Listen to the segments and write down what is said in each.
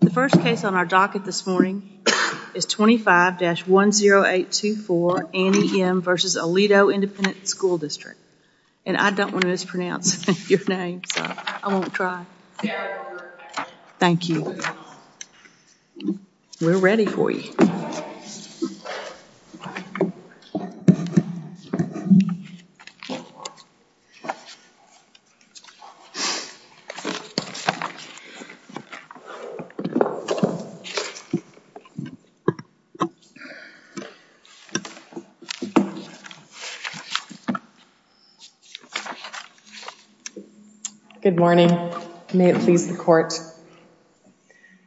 The first case on our docket this morning is 25-10824 Annie M. v. Aledo Independent School District and I don't want to mispronounce your name so I won't try. Thank you. We're ready for you. Good morning. May it please the Court.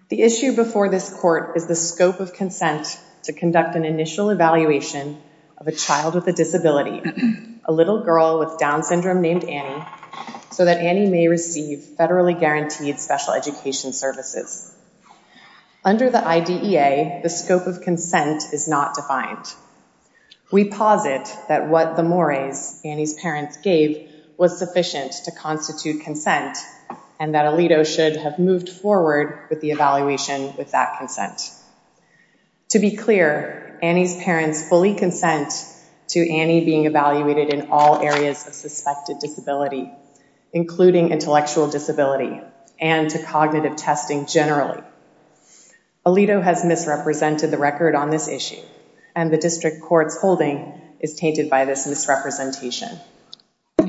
The issue before this Court is the scope of consent to conduct an initial evaluation of a child with a disability, a little girl with Down syndrome named Annie, so that Annie may receive federally guaranteed special education services. Under the IDEA, the scope of consent is not defined. We posit that what the mores Annie's parents gave was sufficient to constitute consent and that Aledo should have moved forward with the evaluation with that consent. To be clear, Annie's parents fully consent to Annie being evaluated in all areas of suspected disability, including intellectual disability and to cognitive testing generally. Aledo has misrepresented the record on this issue and the District Court's holding is tainted by this misrepresentation.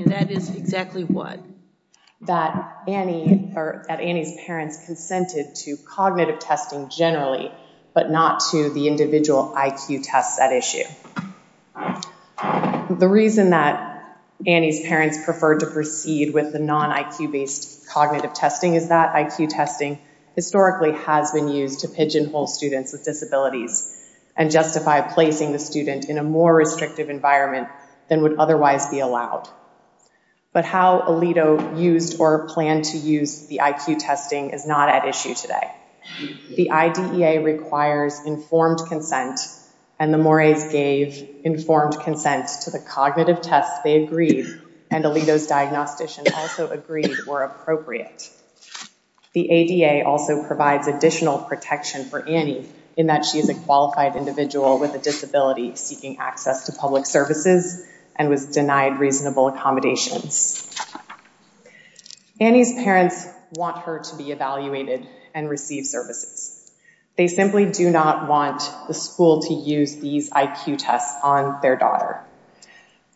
That is exactly what? That Annie or that Annie's parents consented to cognitive testing generally but not to the individual IQ tests at issue. The reason that Annie's parents preferred to proceed with the non-IQ-based cognitive testing is that IQ testing historically has been used to pigeonhole students with disabilities and justify placing the student in a more restrictive environment than would otherwise be allowed. But how Aledo used or planned to use the IQ testing is not at issue today. The IDEA requires informed consent and the mores gave informed consent to the cognitive tests they agreed and Aledo's diagnostician also agreed were appropriate. The ADA also provides additional protection for Annie in that she is a qualified individual with a disability seeking access to public services and was denied reasonable accommodations. Annie's parents want her to be evaluated and receive services. They simply do not want the school to use these IQ tests on their daughter.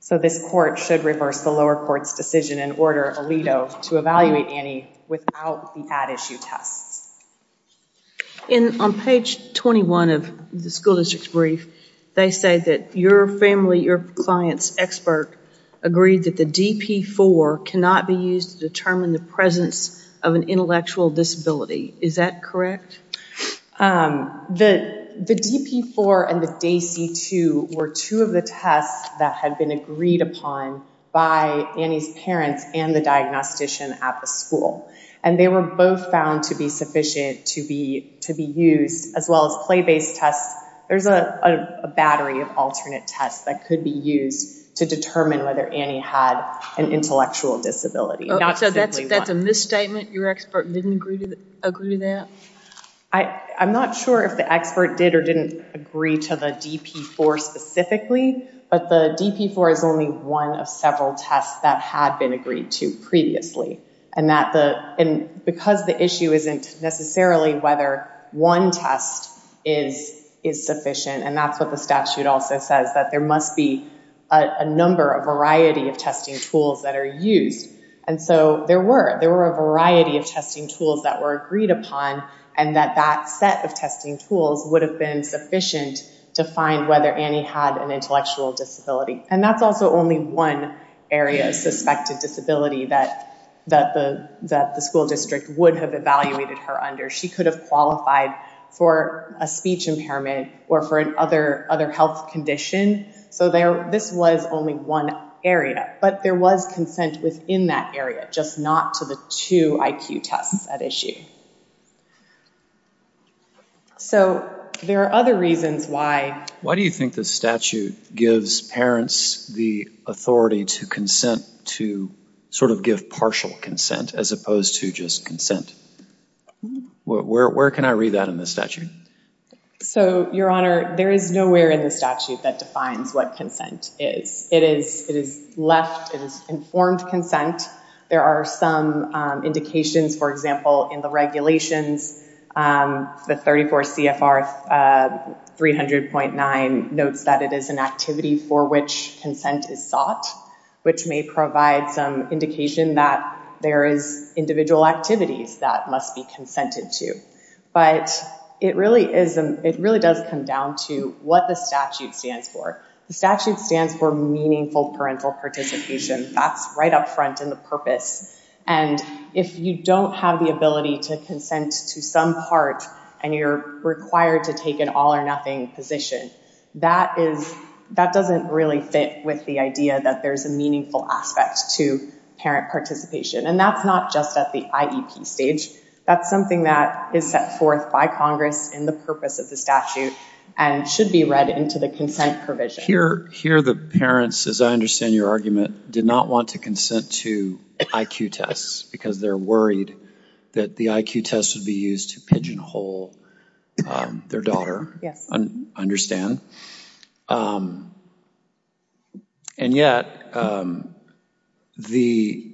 So this court should reverse the lower court's decision and order Aledo to evaluate Annie without the at-issue tests. And on page 21 of the school district's brief, they say that your family, your client's expert agreed that the DP-4 cannot be used to determine the presence of an intellectual disability. Is that correct? The DP-4 and the DAISY-2 were two of the tests that had been agreed upon by Annie's parents and the diagnostician at the school and they were both found to be sufficient to be used as well as play-based tests. There's a battery of alternate tests that could be used to determine whether Annie had an intellectual disability. So that's a misstatement? Your expert didn't agree to that? I'm not sure if the expert did or didn't agree to the DP-4 specifically but the DP-4 is only one of several tests that had been agreed to previously and because the issue isn't necessarily whether one test is sufficient and that's what the statute also says that there must be a number, a variety of testing tools that are used. And so there were, there were a variety of testing tools that were agreed upon and that that set of testing tools would have been sufficient to find whether Annie had an intellectual disability. And that's also only one area of suspected disability that the school district would have evaluated her under. She could have qualified for a speech impairment or for an other other health condition. So there, this was only one area but there was consent within that area just not to the two IQ tests at issue. So there are other reasons why. Why do you think the statute gives parents the authority to consent to sort of give partial consent as opposed to just consent? Where can I read that in the statute? So your honor, there is nowhere in the statute that defines what consent is. It is, it is left, it is informed consent. There are some indications for example in the regulations. The 34 CFR 300.9 notes that it is an activity for which consent is sought which may provide some indication that there is individual activities that must be consented to. But it really is, it really does come down to what the statute stands for. The statute stands for meaningful parental participation. That's right up front in the purpose. And if you don't have the ability to consent to some part and you're required to take an all or nothing position, that is, that doesn't really fit with the idea that there's a meaningful aspect to parent participation. And that's not just at the IEP stage. That's something that is set forth by Congress in the purpose of the statute and should be read into the consent provision. Here, here the parents, as I understand your argument, did not want to consent to IQ tests because they're worried that the IQ test would be used to pigeonhole their daughter. Yes. I understand. And yet, the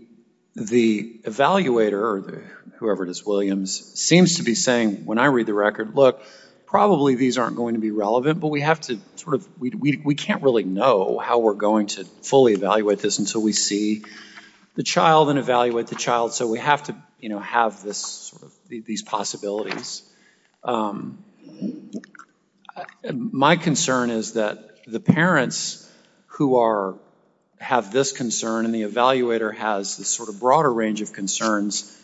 evaluator or whoever it is, Williams, seems to be saying when I read the record, look, probably these aren't going to be relevant, but we have to sort of, we can't really know how we're going to fully evaluate this until we see the child and evaluate the child. So we have to, you know, have this sort of, these possibilities. My concern is that the parents who are, have this concern and the evaluator has this sort of broader range of concerns.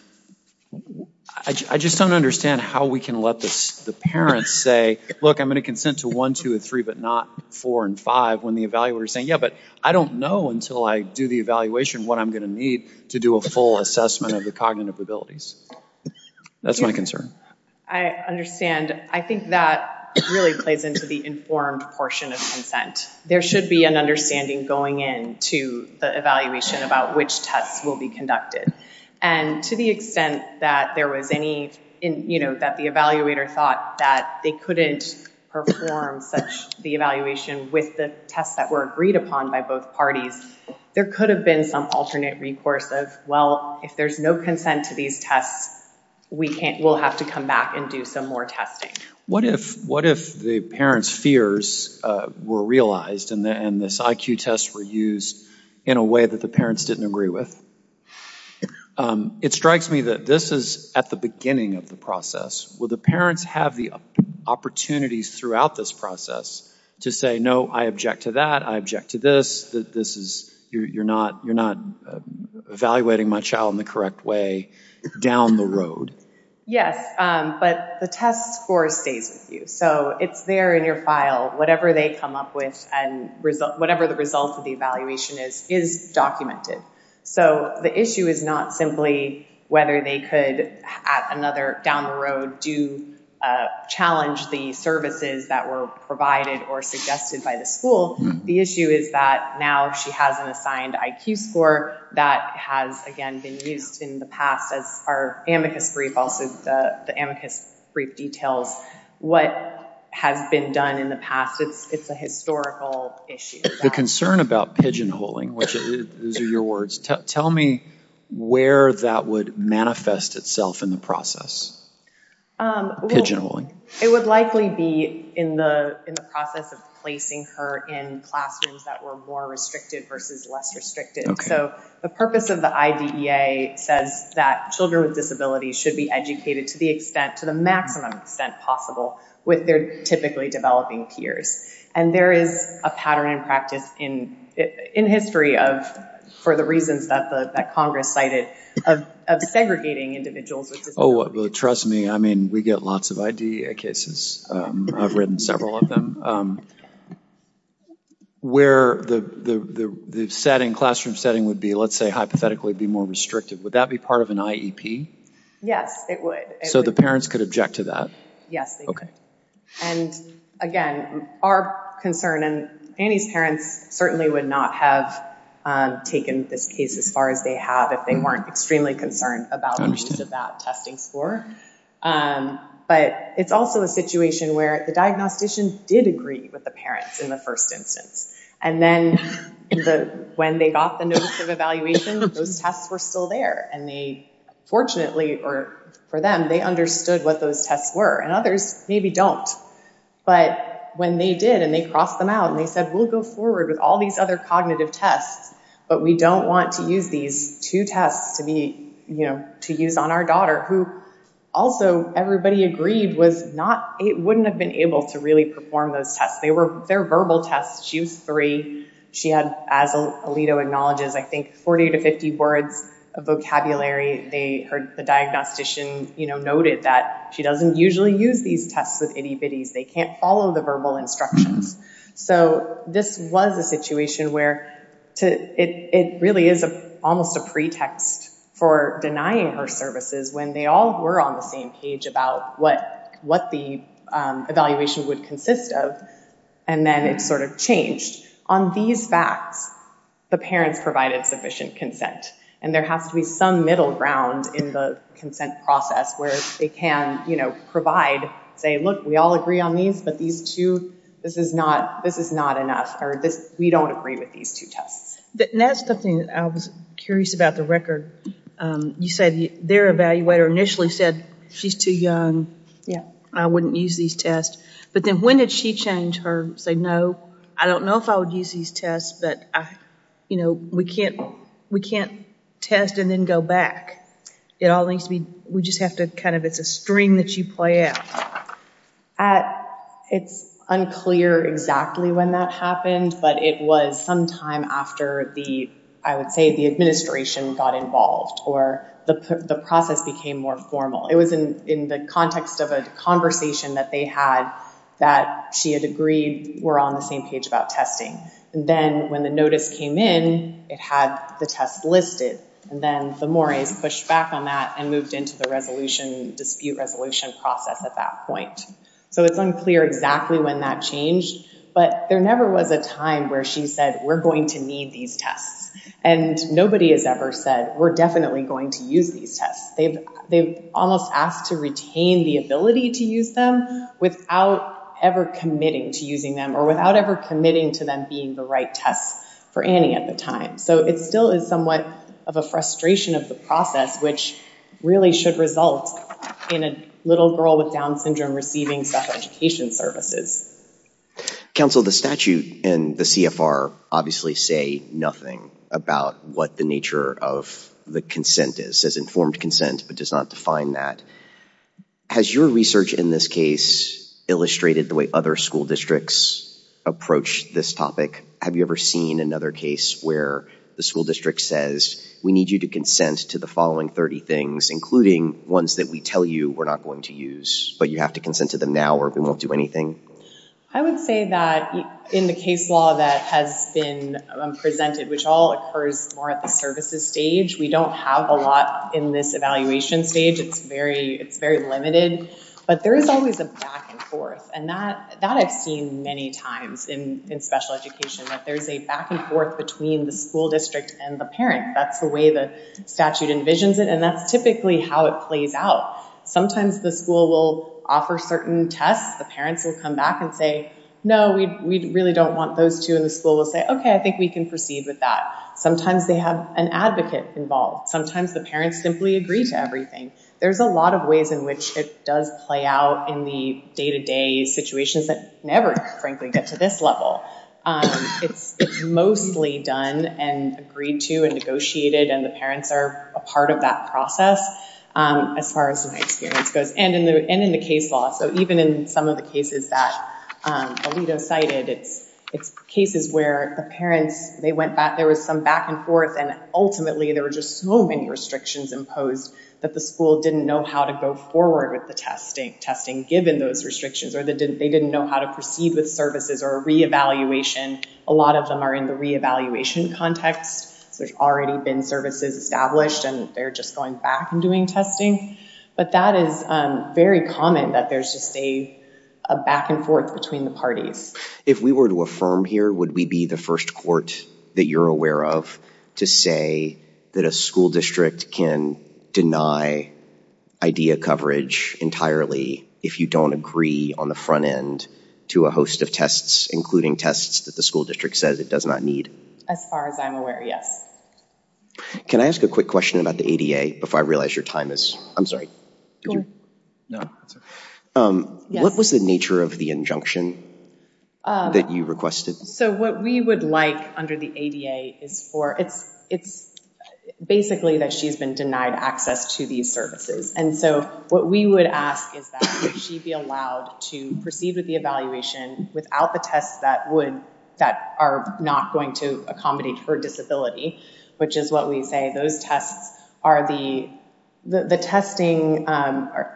I just don't understand how we can let this, the parents say, look, I'm going to consent to one, two, three, but not four and five when the evaluator is saying, yeah, but I don't know until I do the evaluation what I'm going to need to do a full assessment of the cognitive abilities. That's my concern. I understand. I think that really plays into the informed portion of consent. There should be an understanding going in to the evaluation about which tests will be conducted. And to the extent that there was any, in, you know, that the evaluator thought that they couldn't perform such the evaluation with the tests that were agreed upon by both parties, there could have been some alternate recourse of, well, if there's no consent to these tests, we can't, we'll have to come back and do some more testing. What if, what if the parents' fears were realized and this IQ test were used in a way that the parents didn't agree with? It strikes me that this is at the beginning of the process. Will the parents have the opportunities throughout this process to say, no, I object to that, I object to this, that this is, you're not evaluating my child in the correct way down the road? Yes, but the test score stays with you. So it's there in your file, whatever they come up and whatever the result of the evaluation is, is documented. So the issue is not simply whether they could at another, down the road, do challenge the services that were provided or suggested by the school. The issue is that now she has an assigned IQ score that has, again, been used in the past as our amicus brief, also the amicus brief details what has been done in the past. It's a historical issue. The concern about pigeonholing, which those are your words, tell me where that would manifest itself in the process. Pigeonholing. It would likely be in the process of placing her in classrooms that were more restricted versus less restricted. So the purpose of the IDEA says that children with disabilities should be educated to the extent, to the maximum extent possible, with their typically developing peers. And there is a pattern and practice in history of, for the reasons that Congress cited, of segregating individuals with disabilities. Oh, well, trust me, I mean, we get lots of IDEA cases. I've written several of them. Where the classroom setting would be, let's say, hypothetically be more would that be part of an IEP? Yes, it would. So the parents could object to that? Yes, they could. And again, our concern, and Annie's parents certainly would not have taken this case as far as they have if they weren't extremely concerned about that testing score. But it's also a situation where the diagnostician did agree with the parents in the first instance. And then when they got the notice of evaluation, those tests were still there. And they, fortunately, or for them, they understood what those tests were. And others maybe don't. But when they did, and they crossed them out, and they said, we'll go forward with all these other cognitive tests, but we don't want to use these two tests to be, you know, to use on our daughter, who also everybody agreed was not, it wouldn't have been able to really perform those tests. They're verbal tests. She was three. She had, as Alito acknowledges, I think 40 to 50 words of vocabulary. The diagnostician noted that she doesn't usually use these tests with itty-bitties. They can't follow the verbal instructions. So this was a situation where it really is almost a pretext for denying her services when they all were on the same page about what the evaluation would consist of. And then it sort of changed. On these facts, the parents provided sufficient consent. And there has to be some middle ground in the consent process where they can, you know, provide, say, look, we all agree on these, but these two, this is not, this is not enough, or this, we don't agree with these two tests. And that's something I was curious about the record. You said their evaluator initially said she's too young. Yeah. I wouldn't use these tests. But then when did she change her, say, no, I don't know if I would use these tests, but I, you know, we can't, we can't test and then go back. It all needs to be, we just have to kind of, it's a string that you play out. It's unclear exactly when that happened, but it was sometime after the, I would say the administration got involved or the process became more formal. It was in the context of a conversation that they had that she had agreed were on the same page about testing. And then when the notice came in, it had the tests listed. And then the mores pushed back on that and moved into the resolution dispute resolution process at that point. So it's unclear exactly when that changed, but there never was a time where she said, we're going to need these tests. And nobody has ever said, we're definitely going to use these tests. They've, they've almost asked to retain the ability to use them without ever committing to using them or without ever committing to them being the right tests for any at the time. So it still is somewhat of a frustration of the process, which really should result in a little girl with Down syndrome receiving self-education services. Counsel, the statute and the CFR obviously say nothing about what the nature of the consent is, says informed consent, but does not define that. Has your research in this case illustrated the way other school districts approach this topic? Have you ever seen another case where the school district says, we need you to consent to the following 30 things, including ones that we tell you we're not going to use, but you have to consent to them now, or we won't do anything. I would say that in the case law that has been presented, which all occurs more at the services stage, we don't have a lot in this evaluation stage. It's very, it's very limited, but there is always a back and forth. And that, that I've seen many times in, in special education, that there's a back and forth between the school district and the parent. That's the way the statute envisions it. And that's typically how it plays out. Sometimes the school will offer certain tests. The parents will come back and say, no, we, we really don't want those two in the school. We'll say, okay, I think we can proceed with that. Sometimes they have an advocate involved. Sometimes the parents simply agree to everything. There's a lot of ways in which it does play out in the day-to-day situations that never frankly get to this level. It's, it's mostly done and agreed to and negotiated. And the parents are a part of that process. As far as my experience goes, and in the, and in the case law. So even in some of the cases that Alito cited, it's, it's cases where the parents, they went back, there was some back and forth, and ultimately there were just so many restrictions imposed that the school didn't know how to go forward with the testing, testing given those restrictions, or they didn't, they didn't know how to proceed with services or re-evaluation. A lot of them are in the re-evaluation context. So there's already been services established and they're just going back and doing testing, but that is very common that there's just a back and forth between the parties. If we were to affirm here, would we be the first court that you're aware of to say that a school district can deny IDEA coverage entirely if you don't agree on the front end to a host of tests, including tests that the school district says it does not need? As far as I'm aware, yes. Can I ask a quick question about the ADA before I realize your time is, I'm sorry. What was the nature of the injunction that you requested? So what we would like under the ADA is for, it's, it's basically that she's been denied access to these services. And so what we would ask is that she be allowed to proceed with the evaluation without the tests that would, that are not going to accommodate her disability, which is what we say. Those tests are the, the testing,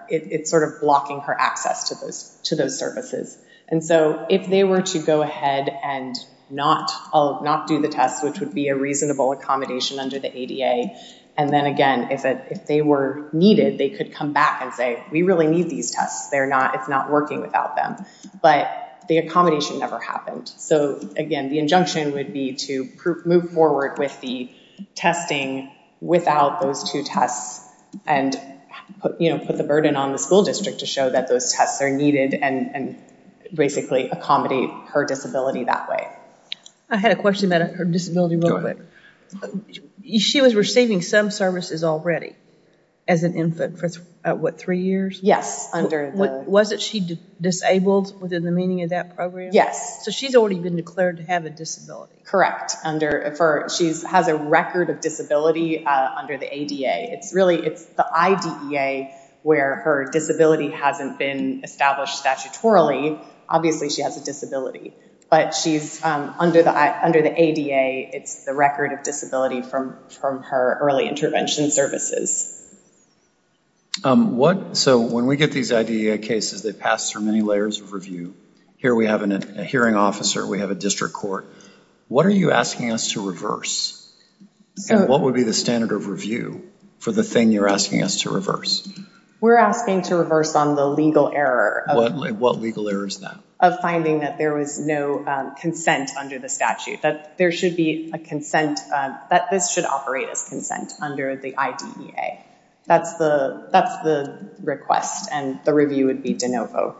it's sort of blocking her access to those, to those services. And so if they were to go ahead and not, not do the tests, which would be a reasonable accommodation under the ADA. And then again, if it, if they were needed, they could come back and say, we really need these tests. They're not, it's not working without them, but the accommodation never happened. So again, the injunction would be to move forward with the testing without those two tests and, you know, put the burden on the school district to show that those tests are needed and basically accommodate her disability that way. I had a question about her disability real quick. She was receiving some services already as an infant for what, three years? Yes. Under the... Wasn't she disabled within the meaning of that program? Yes. So she's already been declared to have a disability. Correct. Under, for, she has a record of disability under the ADA. It's really, it's the IDEA where her disability hasn't been established statutorily. Obviously she has a disability, but she's under the, under the ADA, it's the record of disability from, from her early intervention services. What, so when we get these IDEA cases, they pass through many layers of review. Here we have a hearing officer, we have a district court. What are you asking us to reverse? So what would be the standard of review for the thing you're asking us to reverse? We're asking to reverse on the legal error. What legal error is that? Of finding that there was no consent under the statute, that there should be a consent, that this should operate as consent under the IDEA. That's the, that's the request and the review would be de novo.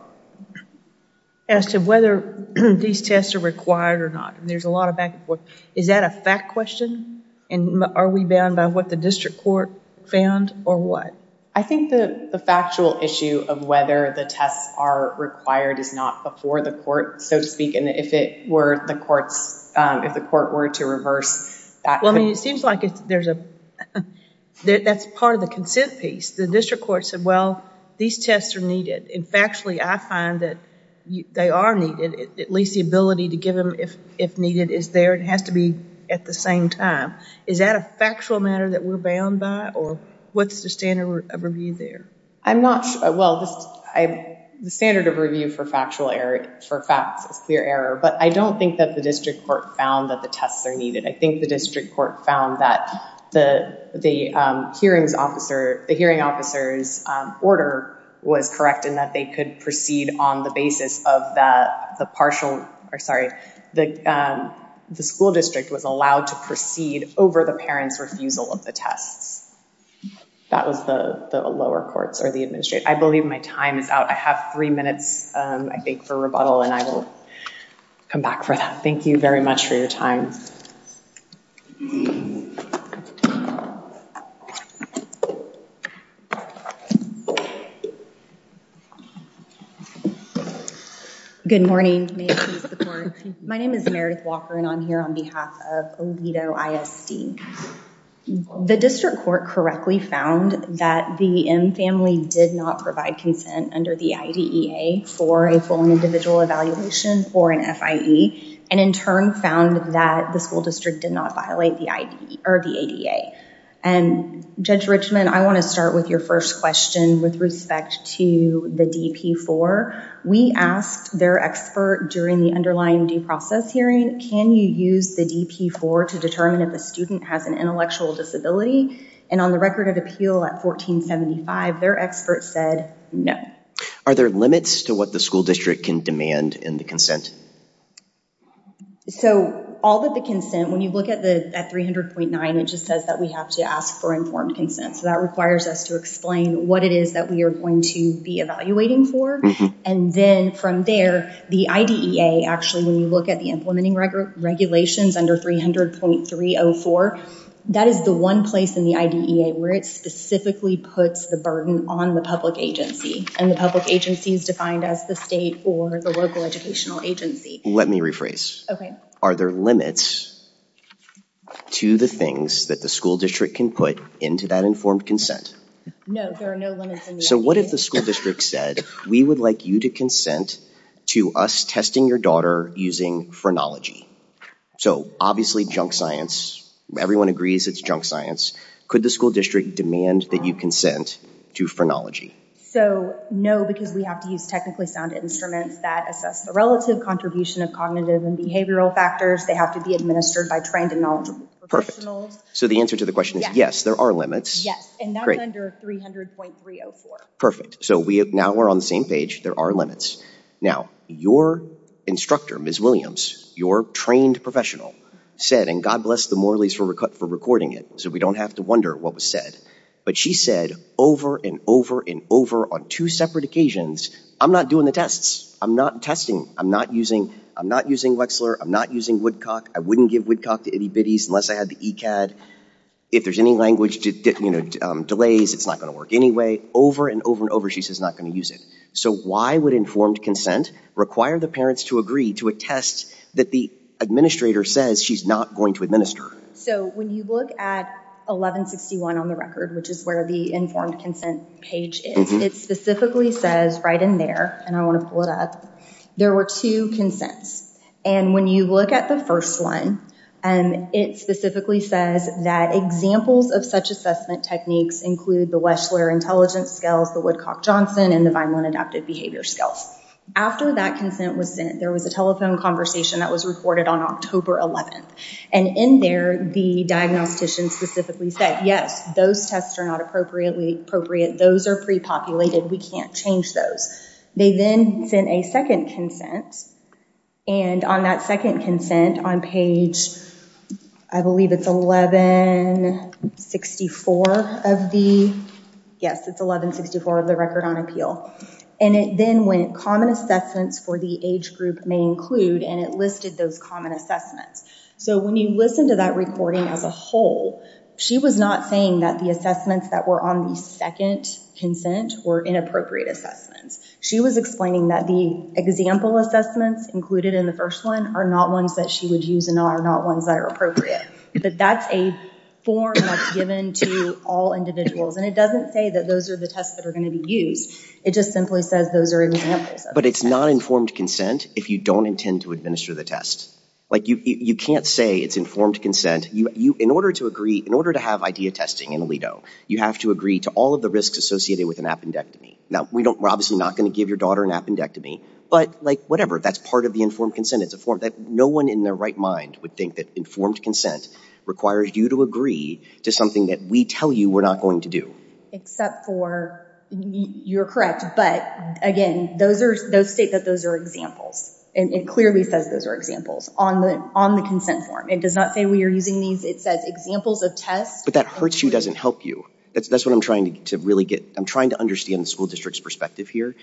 As to whether these tests are required or not, there's a lot of back and forth. Is that a fact question? And are we bound by what the district court found or what? I think the, the factual issue of whether the tests are required is not before the court, so to speak. If it were the court's, if the court were to reverse that. Well, I mean, it seems like it's, there's a, that's part of the consent piece. The district court said, well, these tests are needed and factually I find that they are needed. At least the ability to give them if, if needed is there. It has to be at the same time. Is that a factual matter that we're bound by or what's the standard of review there? I'm not sure. Well, this, I, the standard of review for factual error, for facts is clear error, but I don't think that the district court found that the tests are needed. I think the district court found that the, the, um, hearings officer, the hearing officer's, um, order was correct in that they could proceed on the basis of that, the partial, or sorry, the, um, the school district was allowed to proceed over the parent's refusal of the tests. That was the, the lower courts or the administrator. I believe my time is out. I beg for rebuttal and I will come back for that. Thank you very much for your time. Good morning. My name is Meredith Walker and I'm here on behalf of Aledo ISD. The district court correctly found that the M family did not provide consent under the IDEA for a full and individual evaluation for an FIE and in turn found that the school district did not violate the IDEA or the ADA. And Judge Richman, I want to start with your first question with respect to the DP-4. We asked their expert during the underlying due process hearing, can you use the DP-4 to determine if a student has an intellectual disability? And on the record of appeal at 1475, their expert said no. Are there limits to what the school district can demand in the consent? So all that the consent, when you look at the, at 300.9, it just says that we have to ask for informed consent. So that requires us to explain what it is that we are going to be evaluating for. And then from there, the IDEA, actually, when you at the implementing regulations under 300.304, that is the one place in the IDEA where it specifically puts the burden on the public agency and the public agency is defined as the state or the local educational agency. Let me rephrase. Are there limits to the things that the school district can put into that informed consent? No, there are no limits. So what if the school said, we would like you to consent to us testing your daughter using phrenology? So obviously, junk science, everyone agrees it's junk science. Could the school district demand that you consent to phrenology? So no, because we have to use technically sound instruments that assess the relative contribution of cognitive and behavioral factors. They have to be administered by trained and knowledgeable professionals. So the answer to the question is yes, there are limits. Yes, and that's under 300.304. Perfect. So now we're on the same page. There are limits. Now, your instructor, Ms. Williams, your trained professional said, and God bless the Morley's for recording it, so we don't have to wonder what was said. But she said over and over and over on two separate occasions, I'm not doing the tests. I'm not testing. I'm not using Wexler. I'm not using Woodcock. I wouldn't give Woodcock to itty bitties unless I had the ECAD. If there's language delays, it's not going to work anyway. Over and over and over, she says not going to use it. So why would informed consent require the parents to agree to a test that the administrator says she's not going to administer? So when you look at 1161 on the record, which is where the informed consent page is, it specifically says right in there, and I want to pull it up, there were two consents. And when you look at the first one, it specifically says that examples of such assessment techniques include the Wexler Intelligence Skills, the Woodcock-Johnson, and the Vineland Adaptive Behavior Skills. After that consent was sent, there was a telephone conversation that was recorded on October 11th. And in there, the diagnostician specifically said, yes, those tests are not appropriate. Those are pre-populated. We can't change those. They then sent a second consent. And on that second consent on page, I believe it's 1164 of the, yes, it's 1164 of the record on appeal. And it then went common assessments for the age group may include, and it listed those common assessments. So when you listen to that recording as a whole, she was not saying that the assessments that were on the second consent were inappropriate assessments. She was explaining that the example assessments included in the first one are not ones that she would use and are not ones that are appropriate. But that's a form that's given to all individuals. And it doesn't say that those are the tests that are going to be used. It just simply says those are examples. But it's not informed consent if you don't intend to administer the test. Like you can't say it's informed consent. In order to agree, in order to have idea testing in Aledo, you have to agree to all of the risks associated with an appendectomy. Now we don't, we're obviously not going to give your daughter an appendectomy, but like whatever, that's part of the informed consent. It's a form that no one in their right mind would think that informed consent requires you to agree to something that we tell you we're not going to do. Except for, you're correct, but again, those are, those state that those are examples. And it clearly says those are examples on the, on the consent form. It does not say we are using these. It says examples of tests. But that hurts you doesn't help you. That's what I'm trying to really get. I'm trying to understand the school district's perspective here.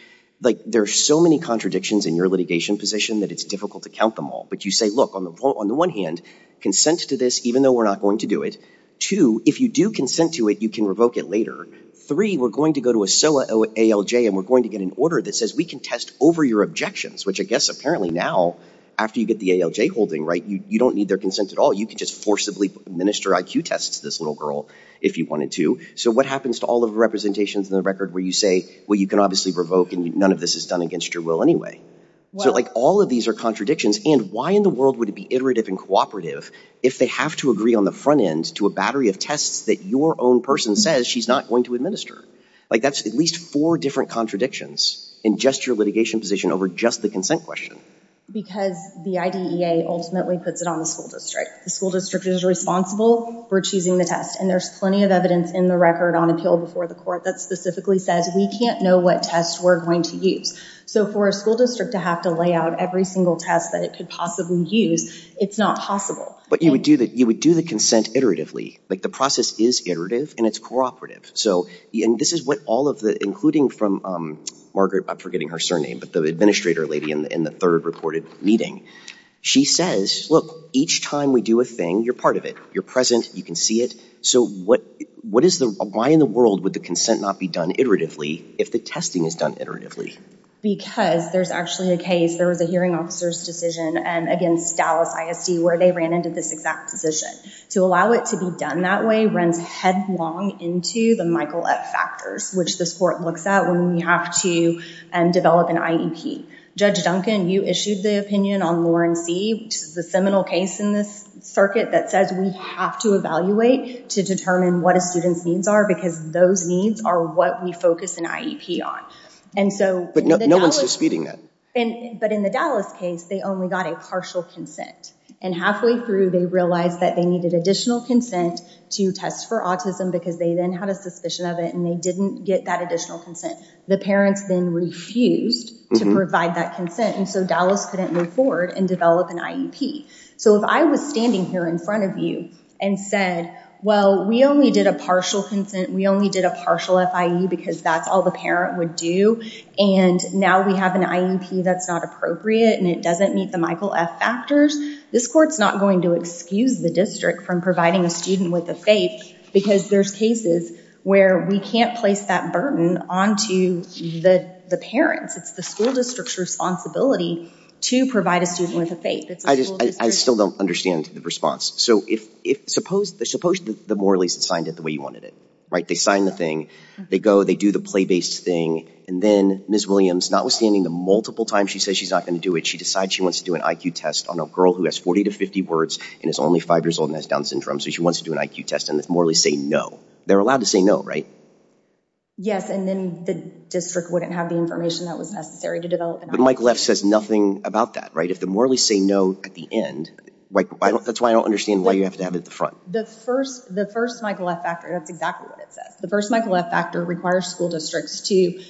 Like there are so many contradictions in your litigation position that it's difficult to count them all. But you say, look, on the one hand, consent to this, even though we're not going to do it. Two, if you do consent to it, you can revoke it later. Three, we're going to go to a SOA ALJ and we're going to get an order that says we can test over your objections, which I guess apparently now after you get the ALJ holding, right, you don't need their consent at all. You can just forcibly administer IQ tests to this little girl if you wanted to. So what happens to all of the representations in the record where you say, well, you can obviously revoke and none of this is done against your will anyway. So like all of these are contradictions and why in the world would it be iterative and cooperative if they have to agree on the front end to a battery of tests that your own person says she's not going to administer? Like that's at least four different contradictions in just your litigation position over just the consent question. Because the IDEA ultimately puts it on the school district. The school district is responsible for choosing the test and there's plenty of evidence in the record on appeal before the court that specifically says we can't know what tests we're going to use. So for a school district to have to lay out every single test that it could possibly use, it's not possible. But you would do the consent iteratively. Like the process is iterative and it's cooperative. So this is what all of the, including from Margaret, I'm forgetting her surname, but the administrator lady in the third reported meeting. She says, look, each time we do a thing, you're part of it. You're present. You can see it. So what is the, why in the world would the consent not be done iteratively if the testing is done iteratively? Because there's actually a case, there was a hearing officer's decision against Dallas ISD where they ran into this exact position. To allow it to be done that way runs headlong into the Michael F. Factors, which this court looks at when we have to develop an IEP. Judge Duncan, you issued the opinion on Lawrence C, which is the seminal case in this circuit that says we have to evaluate to determine what a student's needs are because those needs are what we focus an IEP on. And so- But no one's disputing that. But in the Dallas case, they only got a partial consent. And halfway through, they realized that they needed additional consent to test for autism because they then had a consent. The parents then refused to provide that consent. And so Dallas couldn't move forward and develop an IEP. So if I was standing here in front of you and said, well, we only did a partial consent. We only did a partial FIE because that's all the parent would do. And now we have an IEP that's not appropriate and it doesn't meet the Michael F. Factors. This court's not going to excuse the district from providing a student with a faith because there's cases where we can't place that burden onto the parents. It's the school district's responsibility to provide a student with a faith. I still don't understand the response. So suppose the Morley's had signed it the way you wanted it, right? They sign the thing, they go, they do the play-based thing. And then Ms. Williams, notwithstanding the multiple times she says she's not going to do it, she decides she wants to do an IQ test on a girl who has 40 to 50 words and is only five years old and has Down syndrome. So she wants to do an IQ test and the Morley's say no. They're allowed to say no, right? Yes. And then the district wouldn't have the information that was necessary to develop. But Michael F. says nothing about that, right? If the Morley's say no at the end, that's why I don't understand why you have to have it at the front. The first Michael F. Factor, that's exactly what it says. The first Michael F. Factor requires school districts to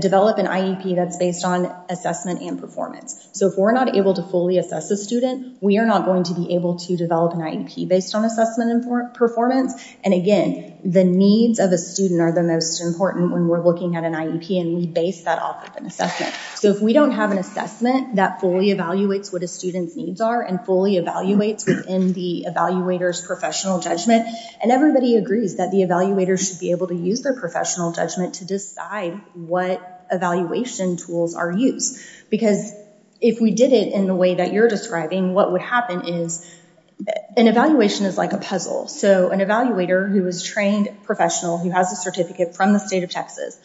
develop an IEP that's based on assessment and performance. So if we're not able to fully assess the student, we are not going to be able to develop an IEP based on assessment and performance. And again, the needs of a student are the most important when we're looking at an IEP and we base that off of an assessment. So if we don't have an assessment that fully evaluates what a student's needs are and fully evaluates within the evaluator's professional judgment, and everybody agrees that the evaluator should be able to use their professional judgment to decide what evaluation tools are used. Because if we did it in the way you're describing, what would happen is an evaluation is like a puzzle. So an evaluator who is trained professional, who has a certificate from the state of Texas,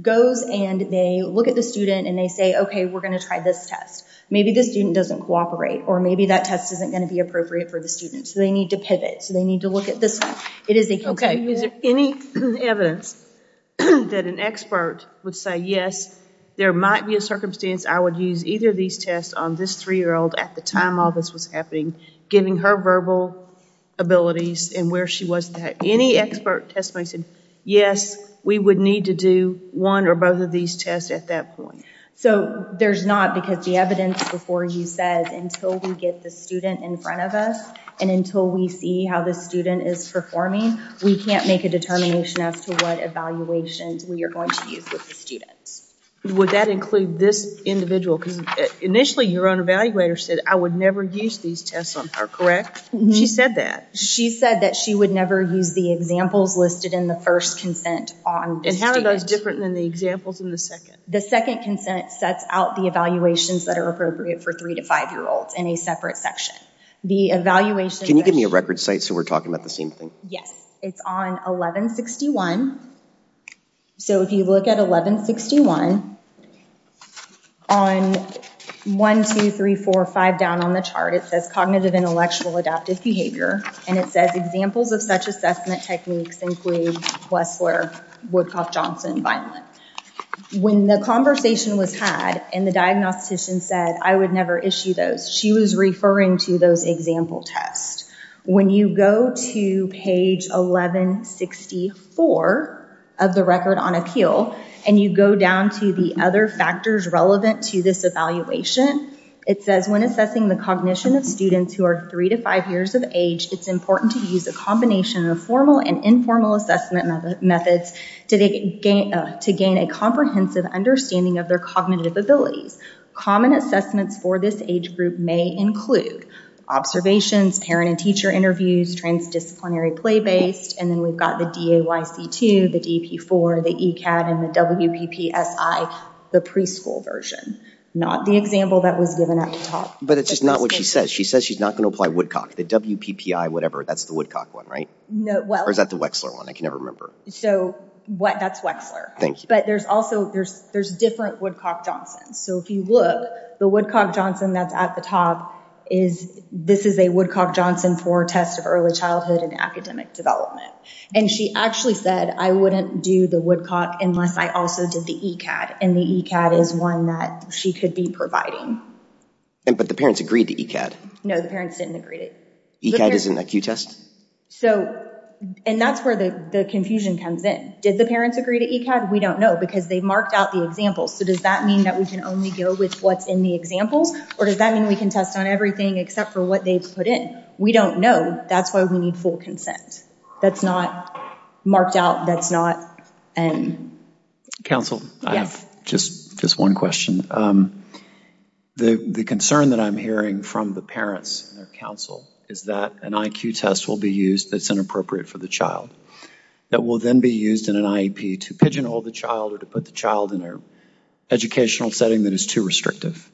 goes and they look at the student and they say, okay, we're going to try this test. Maybe the student doesn't cooperate, or maybe that test isn't going to be appropriate for the student. So they need to pivot. So they need to look at this. It is a- Okay, is there any evidence that an expert would say, yes, there might be a circumstance I would use either of these tests on this three-year-old at the time all this was happening, getting her verbal abilities and where she was that any expert testimony said, yes, we would need to do one or both of these tests at that point. So there's not because the evidence before you says until we get the student in front of us and until we see how the student is performing, we can't make a determination as to what evaluations we are going to use with the students. Would that include this individual? Because initially your own evaluator said, I would never use these tests on her, correct? She said that. She said that she would never use the examples listed in the first consent on- And how are those different than the examples in the second? The second consent sets out the evaluations that are appropriate for three to five-year-olds in a separate section. The evaluation- Can you give me a record site we're talking about the same thing? Yes, it's on 1161. So if you look at 1161 on one, two, three, four, five down on the chart, it says cognitive intellectual adaptive behavior and it says examples of such assessment techniques include Wessler, Woodcock, Johnson, Vineland. When the conversation was had and the diagnostician said, I would never issue those, she was referring to those example tests. When you go to page 1164 of the record on appeal and you go down to the other factors relevant to this evaluation, it says when assessing the cognition of students who are three to five years of age, it's important to use a combination of formal and informal assessment methods to gain a comprehensive understanding of their cognitive abilities. Common assessments for this age group may include observations, parent and teacher interviews, transdisciplinary play-based, and then we've got the DAYC2, the DP4, the ECAD, and the WPPSI, the preschool version, not the example that was given at the top. But it's just not what she says. She says she's not going to apply Woodcock, the WPPI, whatever, that's the Woodcock one, right? No, well- Or is that the Wessler one? I can never remember. So that's Wessler. Thank you. There's also, there's different Woodcock-Johnson. So if you look, the Woodcock-Johnson that's at the top is, this is a Woodcock-Johnson for test of early childhood and academic development. And she actually said, I wouldn't do the Woodcock unless I also did the ECAD. And the ECAD is one that she could be providing. But the parents agreed to ECAD. No, the parents didn't agree to- ECAD is an acute test? And that's where the confusion comes in. Did the parents agree to ECAD? No, because they marked out the examples. So does that mean that we can only go with what's in the examples? Or does that mean we can test on everything except for what they put in? We don't know. That's why we need full consent. That's not marked out. That's not- Counsel, I have just one question. The concern that I'm hearing from the parents and their counsel is that an IQ test will be used that's inappropriate for the child. That will then be used in an IEP to pigeonhole the child or to put the child in an educational setting that is too restrictive.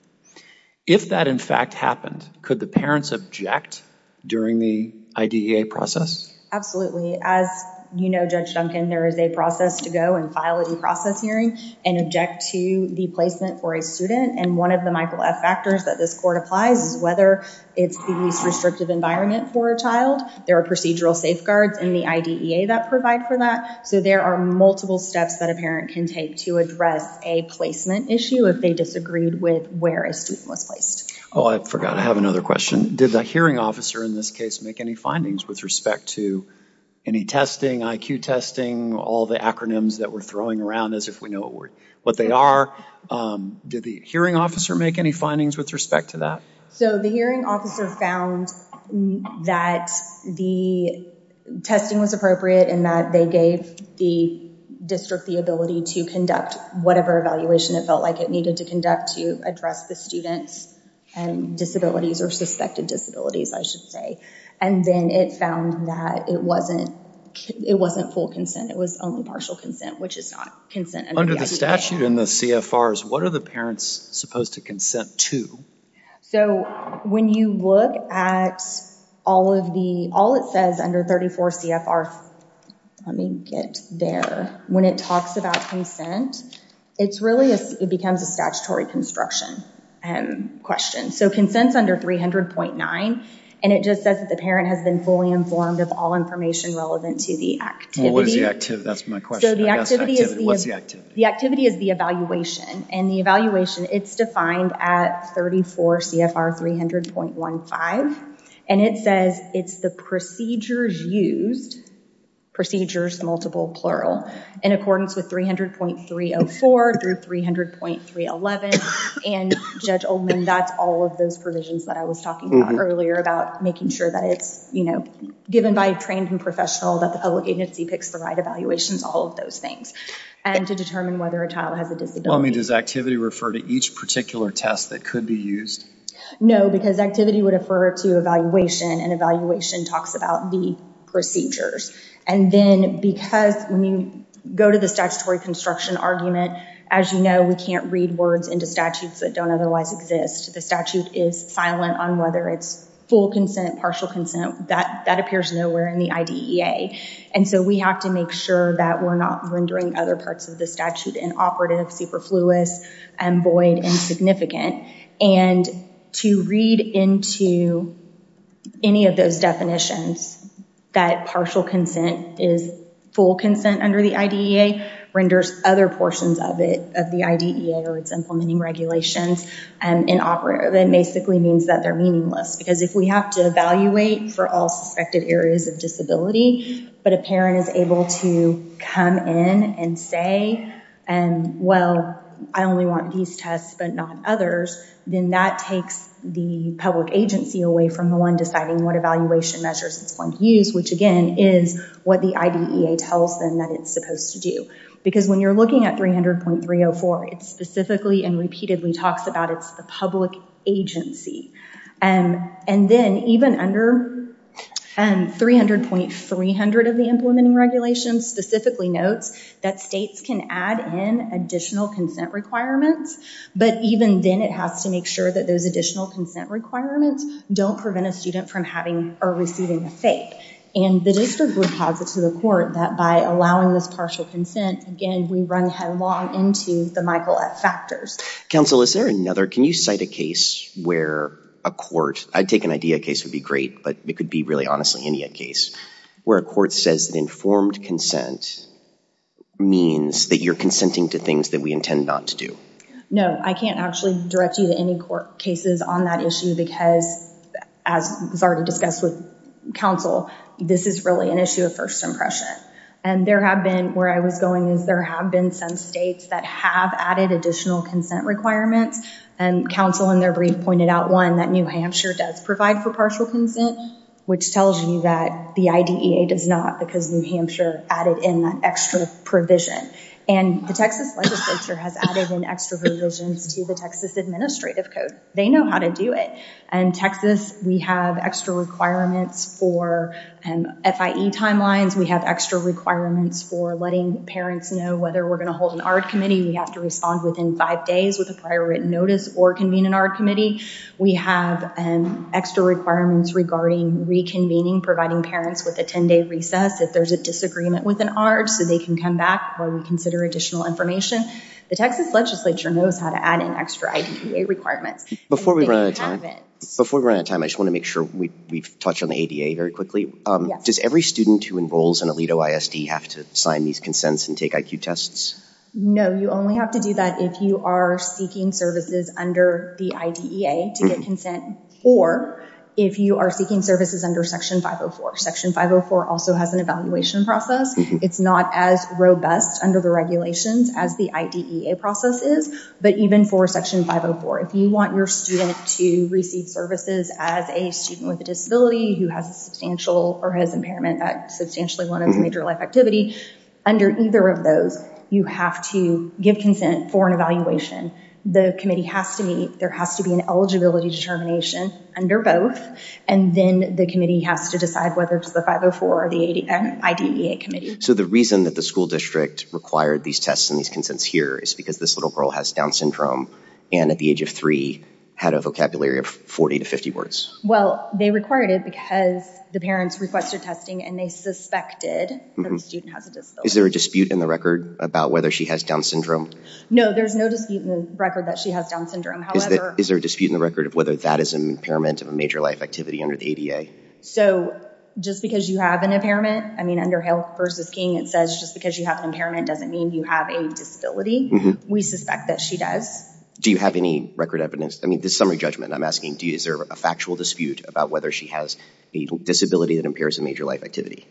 If that, in fact, happened, could the parents object during the IDEA process? Absolutely. As you know, Judge Duncan, there is a process to go and file a due process hearing and object to the placement for a student. And one of the Michael F. factors that this court applies is whether it's the least restrictive environment for a child. There are procedural safeguards in the IDEA that provide for that. So there are multiple steps that a parent can take to address a placement issue if they disagreed with where a student was placed. Oh, I forgot. I have another question. Did the hearing officer in this case make any findings with respect to any testing, IQ testing, all the acronyms that we're throwing around as if we know what they are? Did the hearing officer make any findings with respect to that? So the hearing officer found that the testing was appropriate and that they gave the district the ability to conduct whatever evaluation it felt like it needed to conduct to address the student's disabilities or suspected disabilities, I should say. And then it found that it wasn't full consent. It was only partial consent, which is not consent. Under the CFRs, what are the parents supposed to consent to? So when you look at all of the, all it says under 34 CFR, let me get there. When it talks about consent, it's really, it becomes a statutory construction question. So consent's under 300.9, and it just says that the parent has been fully informed of all information relevant to the activity. Well, what is the activity? That's my question. The activity is the evaluation, and the evaluation, it's defined at 34 CFR 300.15, and it says it's the procedures used, procedures, multiple, plural, in accordance with 300.304 through 300.311, and Judge Oldman, that's all of those provisions that I was talking about earlier about making sure that it's, you know, given by a trained and professional that the public agency picks the right evaluations, all of those things, and to determine whether a child has a disability. Well, I mean, does activity refer to each particular test that could be used? No, because activity would refer to evaluation, and evaluation talks about the procedures. And then because when you go to the statutory construction argument, as you know, we can't read words into statutes that don't otherwise exist. The statute is silent on whether it's full consent, partial consent. That appears nowhere in the IDEA, and so we have to make sure that we're not rendering other parts of the statute inoperative, superfluous, and void, insignificant, and to read into any of those definitions that partial consent is full consent under the IDEA renders other portions of it, of the IDEA or its implementing regulations inoperative. It basically means that they're meaningless, because if we have to evaluate for all suspected areas of disability, but a parent is able to come in and say, well, I only want these tests but not others, then that takes the public agency away from the one deciding what evaluation measures it's going to use, which again is what the IDEA tells them that it's supposed to do. Because when you're looking at 300.304, it specifically and repeatedly talks about it's the public agency. And then even under 300.300 of the implementing regulations specifically notes that states can add in additional consent requirements, but even then it has to make sure that those additional consent requirements don't prevent a student from having or receiving a FAPE. And the district would posit to the court that by allowing this partial consent, again, we run headlong into the Michael F. Factors. Counsel, is there another, can you cite a case where a court, I'd take an IDEA case would be great, but it could be really honestly any case, where a court says that informed consent means that you're consenting to things that we intend not to do. No, I can't actually direct you to any court cases on that issue because, as was already discussed with counsel, this is really an issue of first impression. And there have been, where I was going is there have been some states that have added additional consent requirements. And counsel in their brief pointed out one, that New Hampshire does provide for partial consent, which tells you that the IDEA does not because New Hampshire added in that extra provision. And the Texas legislature has added in extra provisions to the Texas Administrative Code. They know how to do it. And Texas, we have extra requirements for FIE timelines. We have extra requirements for letting parents know whether we're going to hold an ARD committee. We have to respond within five days with a prior written notice or convene an ARD committee. We have extra requirements regarding reconvening, providing parents with a 10-day recess if there's a disagreement with an ARD so they can come back where we consider additional information. The Texas legislature knows how to add in extra IDEA requirements. Before we run out of time, I just want to make sure we've touched on the ADA very quickly. Does every student who enrolls in Aledo ISD have to sign these consents and take IQ tests? No, you only have to do that if you are seeking services under the IDEA to get consent, or if you are seeking services under Section 504. Section 504 also has an evaluation process. It's not as robust under the regulations as the IDEA process is. But even for Section 504, if you want your student to receive services as a student with a disability who has a substantial or has impairment at substantially one of the major life activity, under either of those you have to give consent for an evaluation. The committee has to meet, there has to be an eligibility determination under both, and then the committee has to decide whether it's the 504 or the IDEA committee. So the reason that the school district required these tests and these consents here is because this little girl has Down syndrome and at the age of three had a vocabulary of 40 to 50 words. Well, they required it because the parents requested testing and they suspected that the student has a disability. Is there a dispute in the record about whether she has Down syndrome? No, there's no dispute in the record that she has Down syndrome. Is there a dispute in the record of whether that is an impairment of a major life activity under the ADA? So just because you have an impairment, I mean under Health versus King, it says just because you have an impairment doesn't mean you have a disability. We suspect that she does. Do you have any record evidence? I mean, this summary judgment I'm asking, is there a factual dispute about whether she has a disability that impairs a major life activity?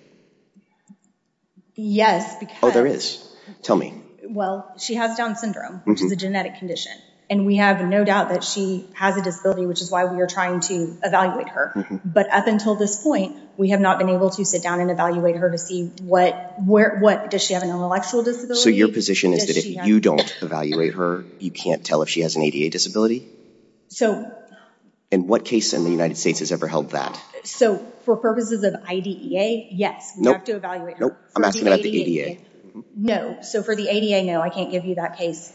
Yes, because... Oh, there is. Tell me. Well, she has Down syndrome, which is a genetic condition, and we have no doubt that she has a disability, which is why we are trying to evaluate her. But up until this point, we have not been able to sit down and evaluate her to see what, does she have an intellectual disability? So your position is that if you don't evaluate her, you can't tell if she has an ADA disability? So... And what case in the United States has ever held that? So for purposes of IDEA, yes, we have to evaluate her. Nope, I'm asking about the ADA. No, so for the ADA, no, I can't give you that case.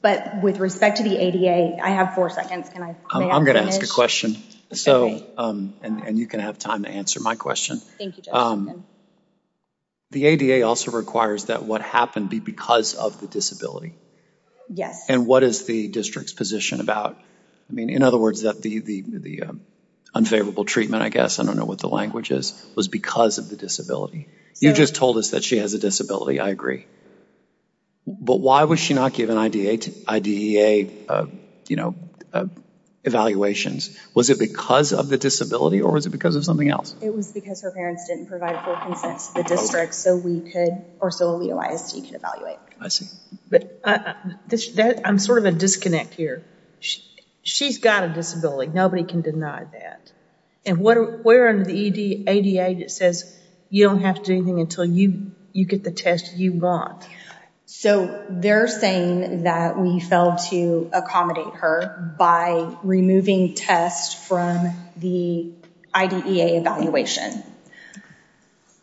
But with respect to the ADA, I have four seconds. Can I finish? I'm going to ask a question, and you can have time to answer my question. Thank you, Judge Hopkins. The ADA also requires that what happened be because of the disability. Yes. And what is the district's position about... I mean, in other words, the unfavorable treatment, I guess, I don't know what the language is, was because of the disability. You just told us that she has a disability, I agree. But why was she not given IDEA evaluations? Was it because of the disability, or was it because of something else? It was because her parents didn't provide full consent to the district, so we could, or so OLEO ISD could evaluate. I see. But I'm sort of at a disconnect here. She's got a disability, nobody can deny that. And where under the ADA, it says you don't have to do anything until you get the test you want. So they're saying that we failed to accommodate her by removing tests from the IDEA evaluation.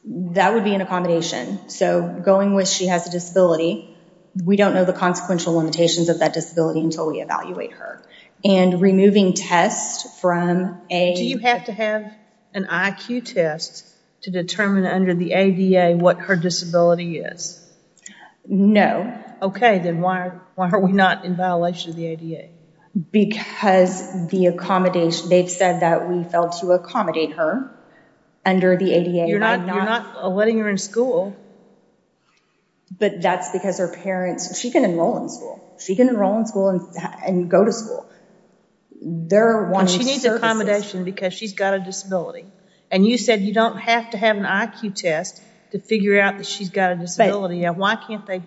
That would be an accommodation. So going with she has a disability, we don't know the consequential limitations of that disability until we evaluate her. And removing tests from a... Do you have to have an IQ test to determine under the ADA what her disability is? No. Okay, then why are we not in violation of the ADA? Because the accommodation, they've said that we failed to accommodate her under the ADA. You're not letting her in school. But that's because her parents, she can enroll in school. She can enroll in school and go to school. They're wanting services. She needs accommodation because she's got a disability. And you said you don't have to have an IQ test to figure out that she's got a disability. Why can't they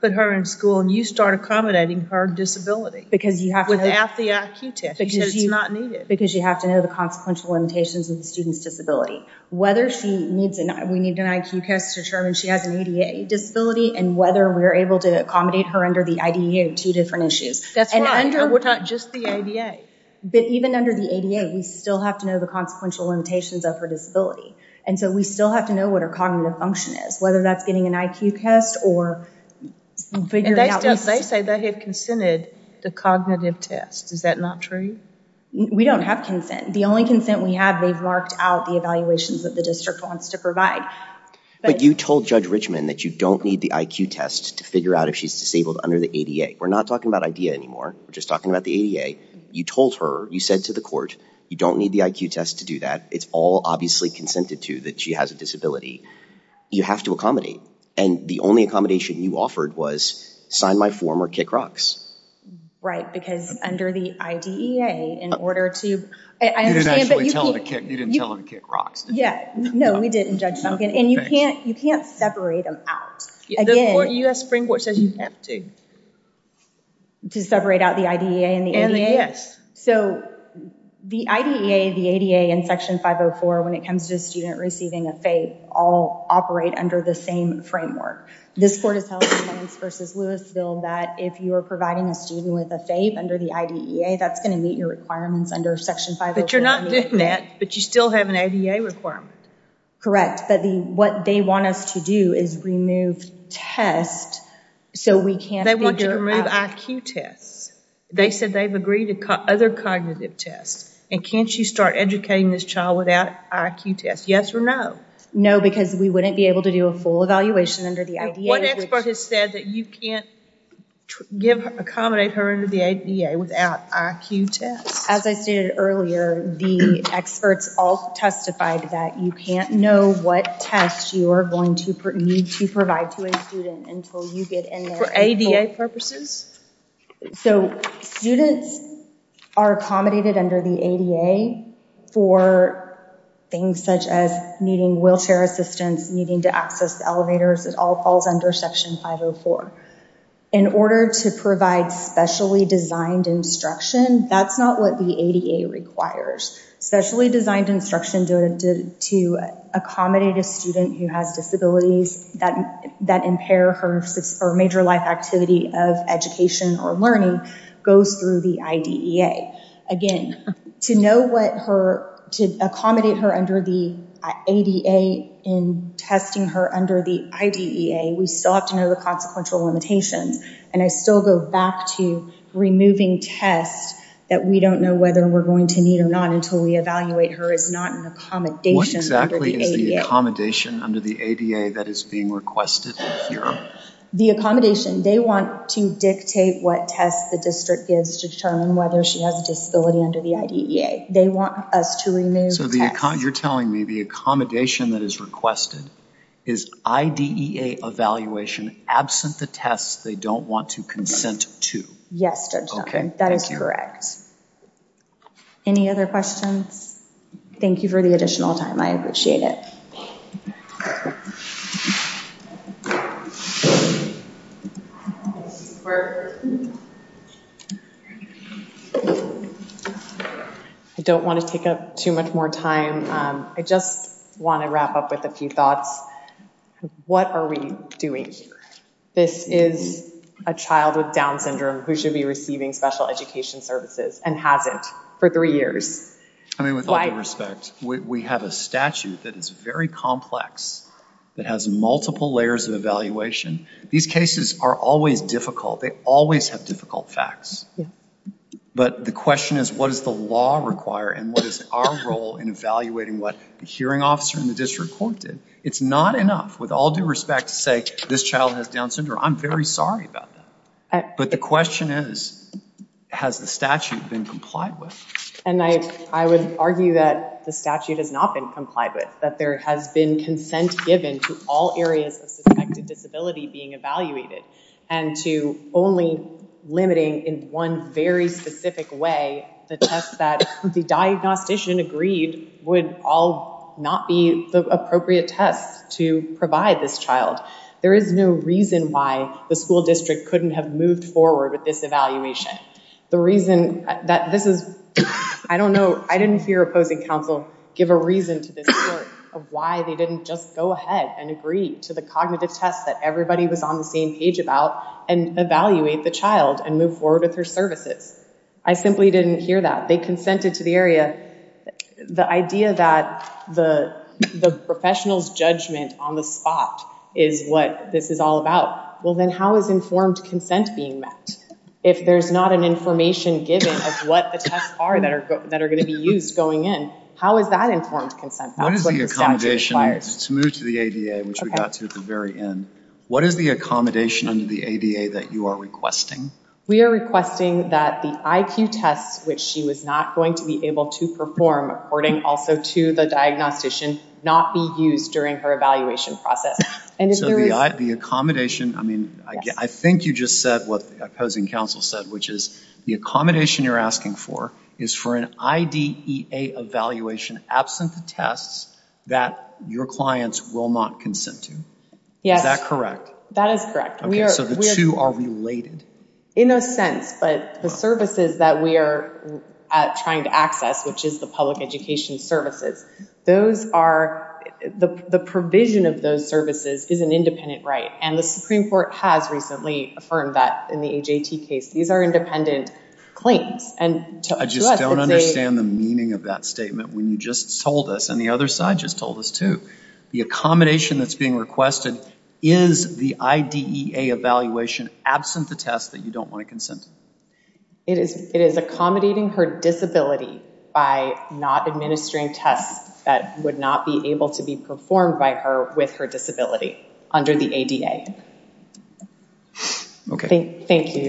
put her in school and you start accommodating her disability without the IQ test? Because it's not needed. Because you have to know the consequential limitations of the student's disability. Whether we need an IQ test to determine she has an ADA disability and whether we're able to accommodate her under the IDEA are two different issues. That's right, and not just the ADA. But even under the ADA, we still have to know the consequential limitations of her disability. And so we still have to know what her cognitive function is, whether that's getting an IQ test or figuring out... They say they have consented to cognitive tests. Is that not true? We don't have consent. The only consent we have, they've marked out the evaluations that the district wants to provide. But you told Judge Richman that you don't need the IQ test to figure out if she's disabled under the ADA. We're not talking about IDEA anymore. We're just talking about the ADA. You told her, you said to the court, you don't need the IQ test to do that. It's all obviously consented to that she has a disability. You have to accommodate. And the only accommodation you offered was, sign my form or kick rocks. Right, because under the IDEA, in order to... You didn't actually tell her to kick rocks, did you? Yeah, no, we didn't, Judge Duncan. And you can't separate them out. U.S. Supreme Court says you have to. To separate out the IDEA and the ADA? Yes. So, the IDEA, the ADA, and Section 504, when it comes to a student receiving a FAPE, all operate under the same framework. This court has held in Williams v. Louisville that if you are providing a student with a FAPE under the IDEA, that's going to meet your requirements under Section 504. But you're not doing that, but you still have an ADA requirement. Correct, but what they want us to do is remove test so we can't figure out... They want you to remove IQ tests. They said they've agreed to other cognitive tests, and can't you start educating this child without IQ tests? Yes or no? No, because we wouldn't be able to do a full evaluation under the IDEA. What expert has said that you can't accommodate her under the ADA without IQ tests? As I stated earlier, the experts all testified that you can't know what tests you are going to need to provide to a student until you get in there... For ADA purposes? So, students are accommodated under the ADA for things such as needing wheelchair assistance, needing to access elevators, it all falls under Section 504. In order to provide specially designed instruction, that's not what the ADA requires. Specially designed instruction to accommodate a student who has disabilities that impair her major life activity of education or learning goes through the IDEA. Again, to accommodate her under the ADA and testing her under the IDEA, we still have to know the consequential limitations, and I still go back to removing tests that we don't know whether we're going to need or not until we evaluate her is not an accommodation under the ADA. The accommodation under the ADA that is being requested here? The accommodation. They want to dictate what tests the district gives to determine whether she has a disability under the IDEA. They want us to remove tests. So, you're telling me the accommodation that is requested is IDEA evaluation absent the tests they don't want to consent to? Yes, Judge Duncan. That is correct. Any other questions? Thank you for the additional time. I appreciate it. I don't want to take up too much more time. I just want to wrap up with a few thoughts. What are we doing here? This is a child with Down syndrome who should be receiving special education services and hasn't for three years. I mean, with all due respect, we have a statute that is very complex that has multiple layers of evaluation. These cases are always difficult. They always have difficult facts. But the question is, what does the law require and what is our role in evaluating what the hearing officer in the district court did? It's not enough, with all due respect, to say this child has Down syndrome. I'm very sorry about that. But the question is, has the statute been complied with? And I would argue that the statute has not been complied with, that there has been consent given to all areas of suspected disability being evaluated and to only limiting in one very specific way the test that the diagnostician agreed would all not be the appropriate test to provide this child. There is no reason why the school district couldn't have moved forward with this evaluation. The reason that this is, I don't know, I didn't hear opposing counsel give a reason to this court of why they didn't just go ahead and agree to the cognitive test that everybody was on the same page about and evaluate the child and move forward with their services. I simply didn't hear that. They consented to the area. The idea that the professional's judgment on the spot is what this is all about. Well, then how is informed consent being met? If there's not an information given of what the tests are that are going to be used going in, how is that informed consent? That's what the statute requires. To move to the ADA, which we got to at the very end, what is the accommodation under the ADA that you are requesting? We are requesting that the IQ tests, which she was not going to be able to perform according also to the diagnostician, not be used during her evaluation process. So the accommodation, I mean, I think you just said what opposing counsel said, which is the accommodation you're asking for is for an IDEA evaluation absent the tests that your clients will not consent to. Is that correct? That is correct. Okay, so the two are related. In a sense, but the services that we are trying to access, which is the public education services, the provision of those services is an independent right, and the Supreme Court has recently affirmed that in the AJT case. These are independent claims, and to us, it's a- I just don't understand the meaning of that statement when you just told us, and the other side just told us too. The accommodation that's being requested, is the IDEA evaluation absent the test that you don't want to consent? It is accommodating her disability by not administering tests that would not be able to be performed by her with her disability under the ADA. Okay. Thank you, Your Honors.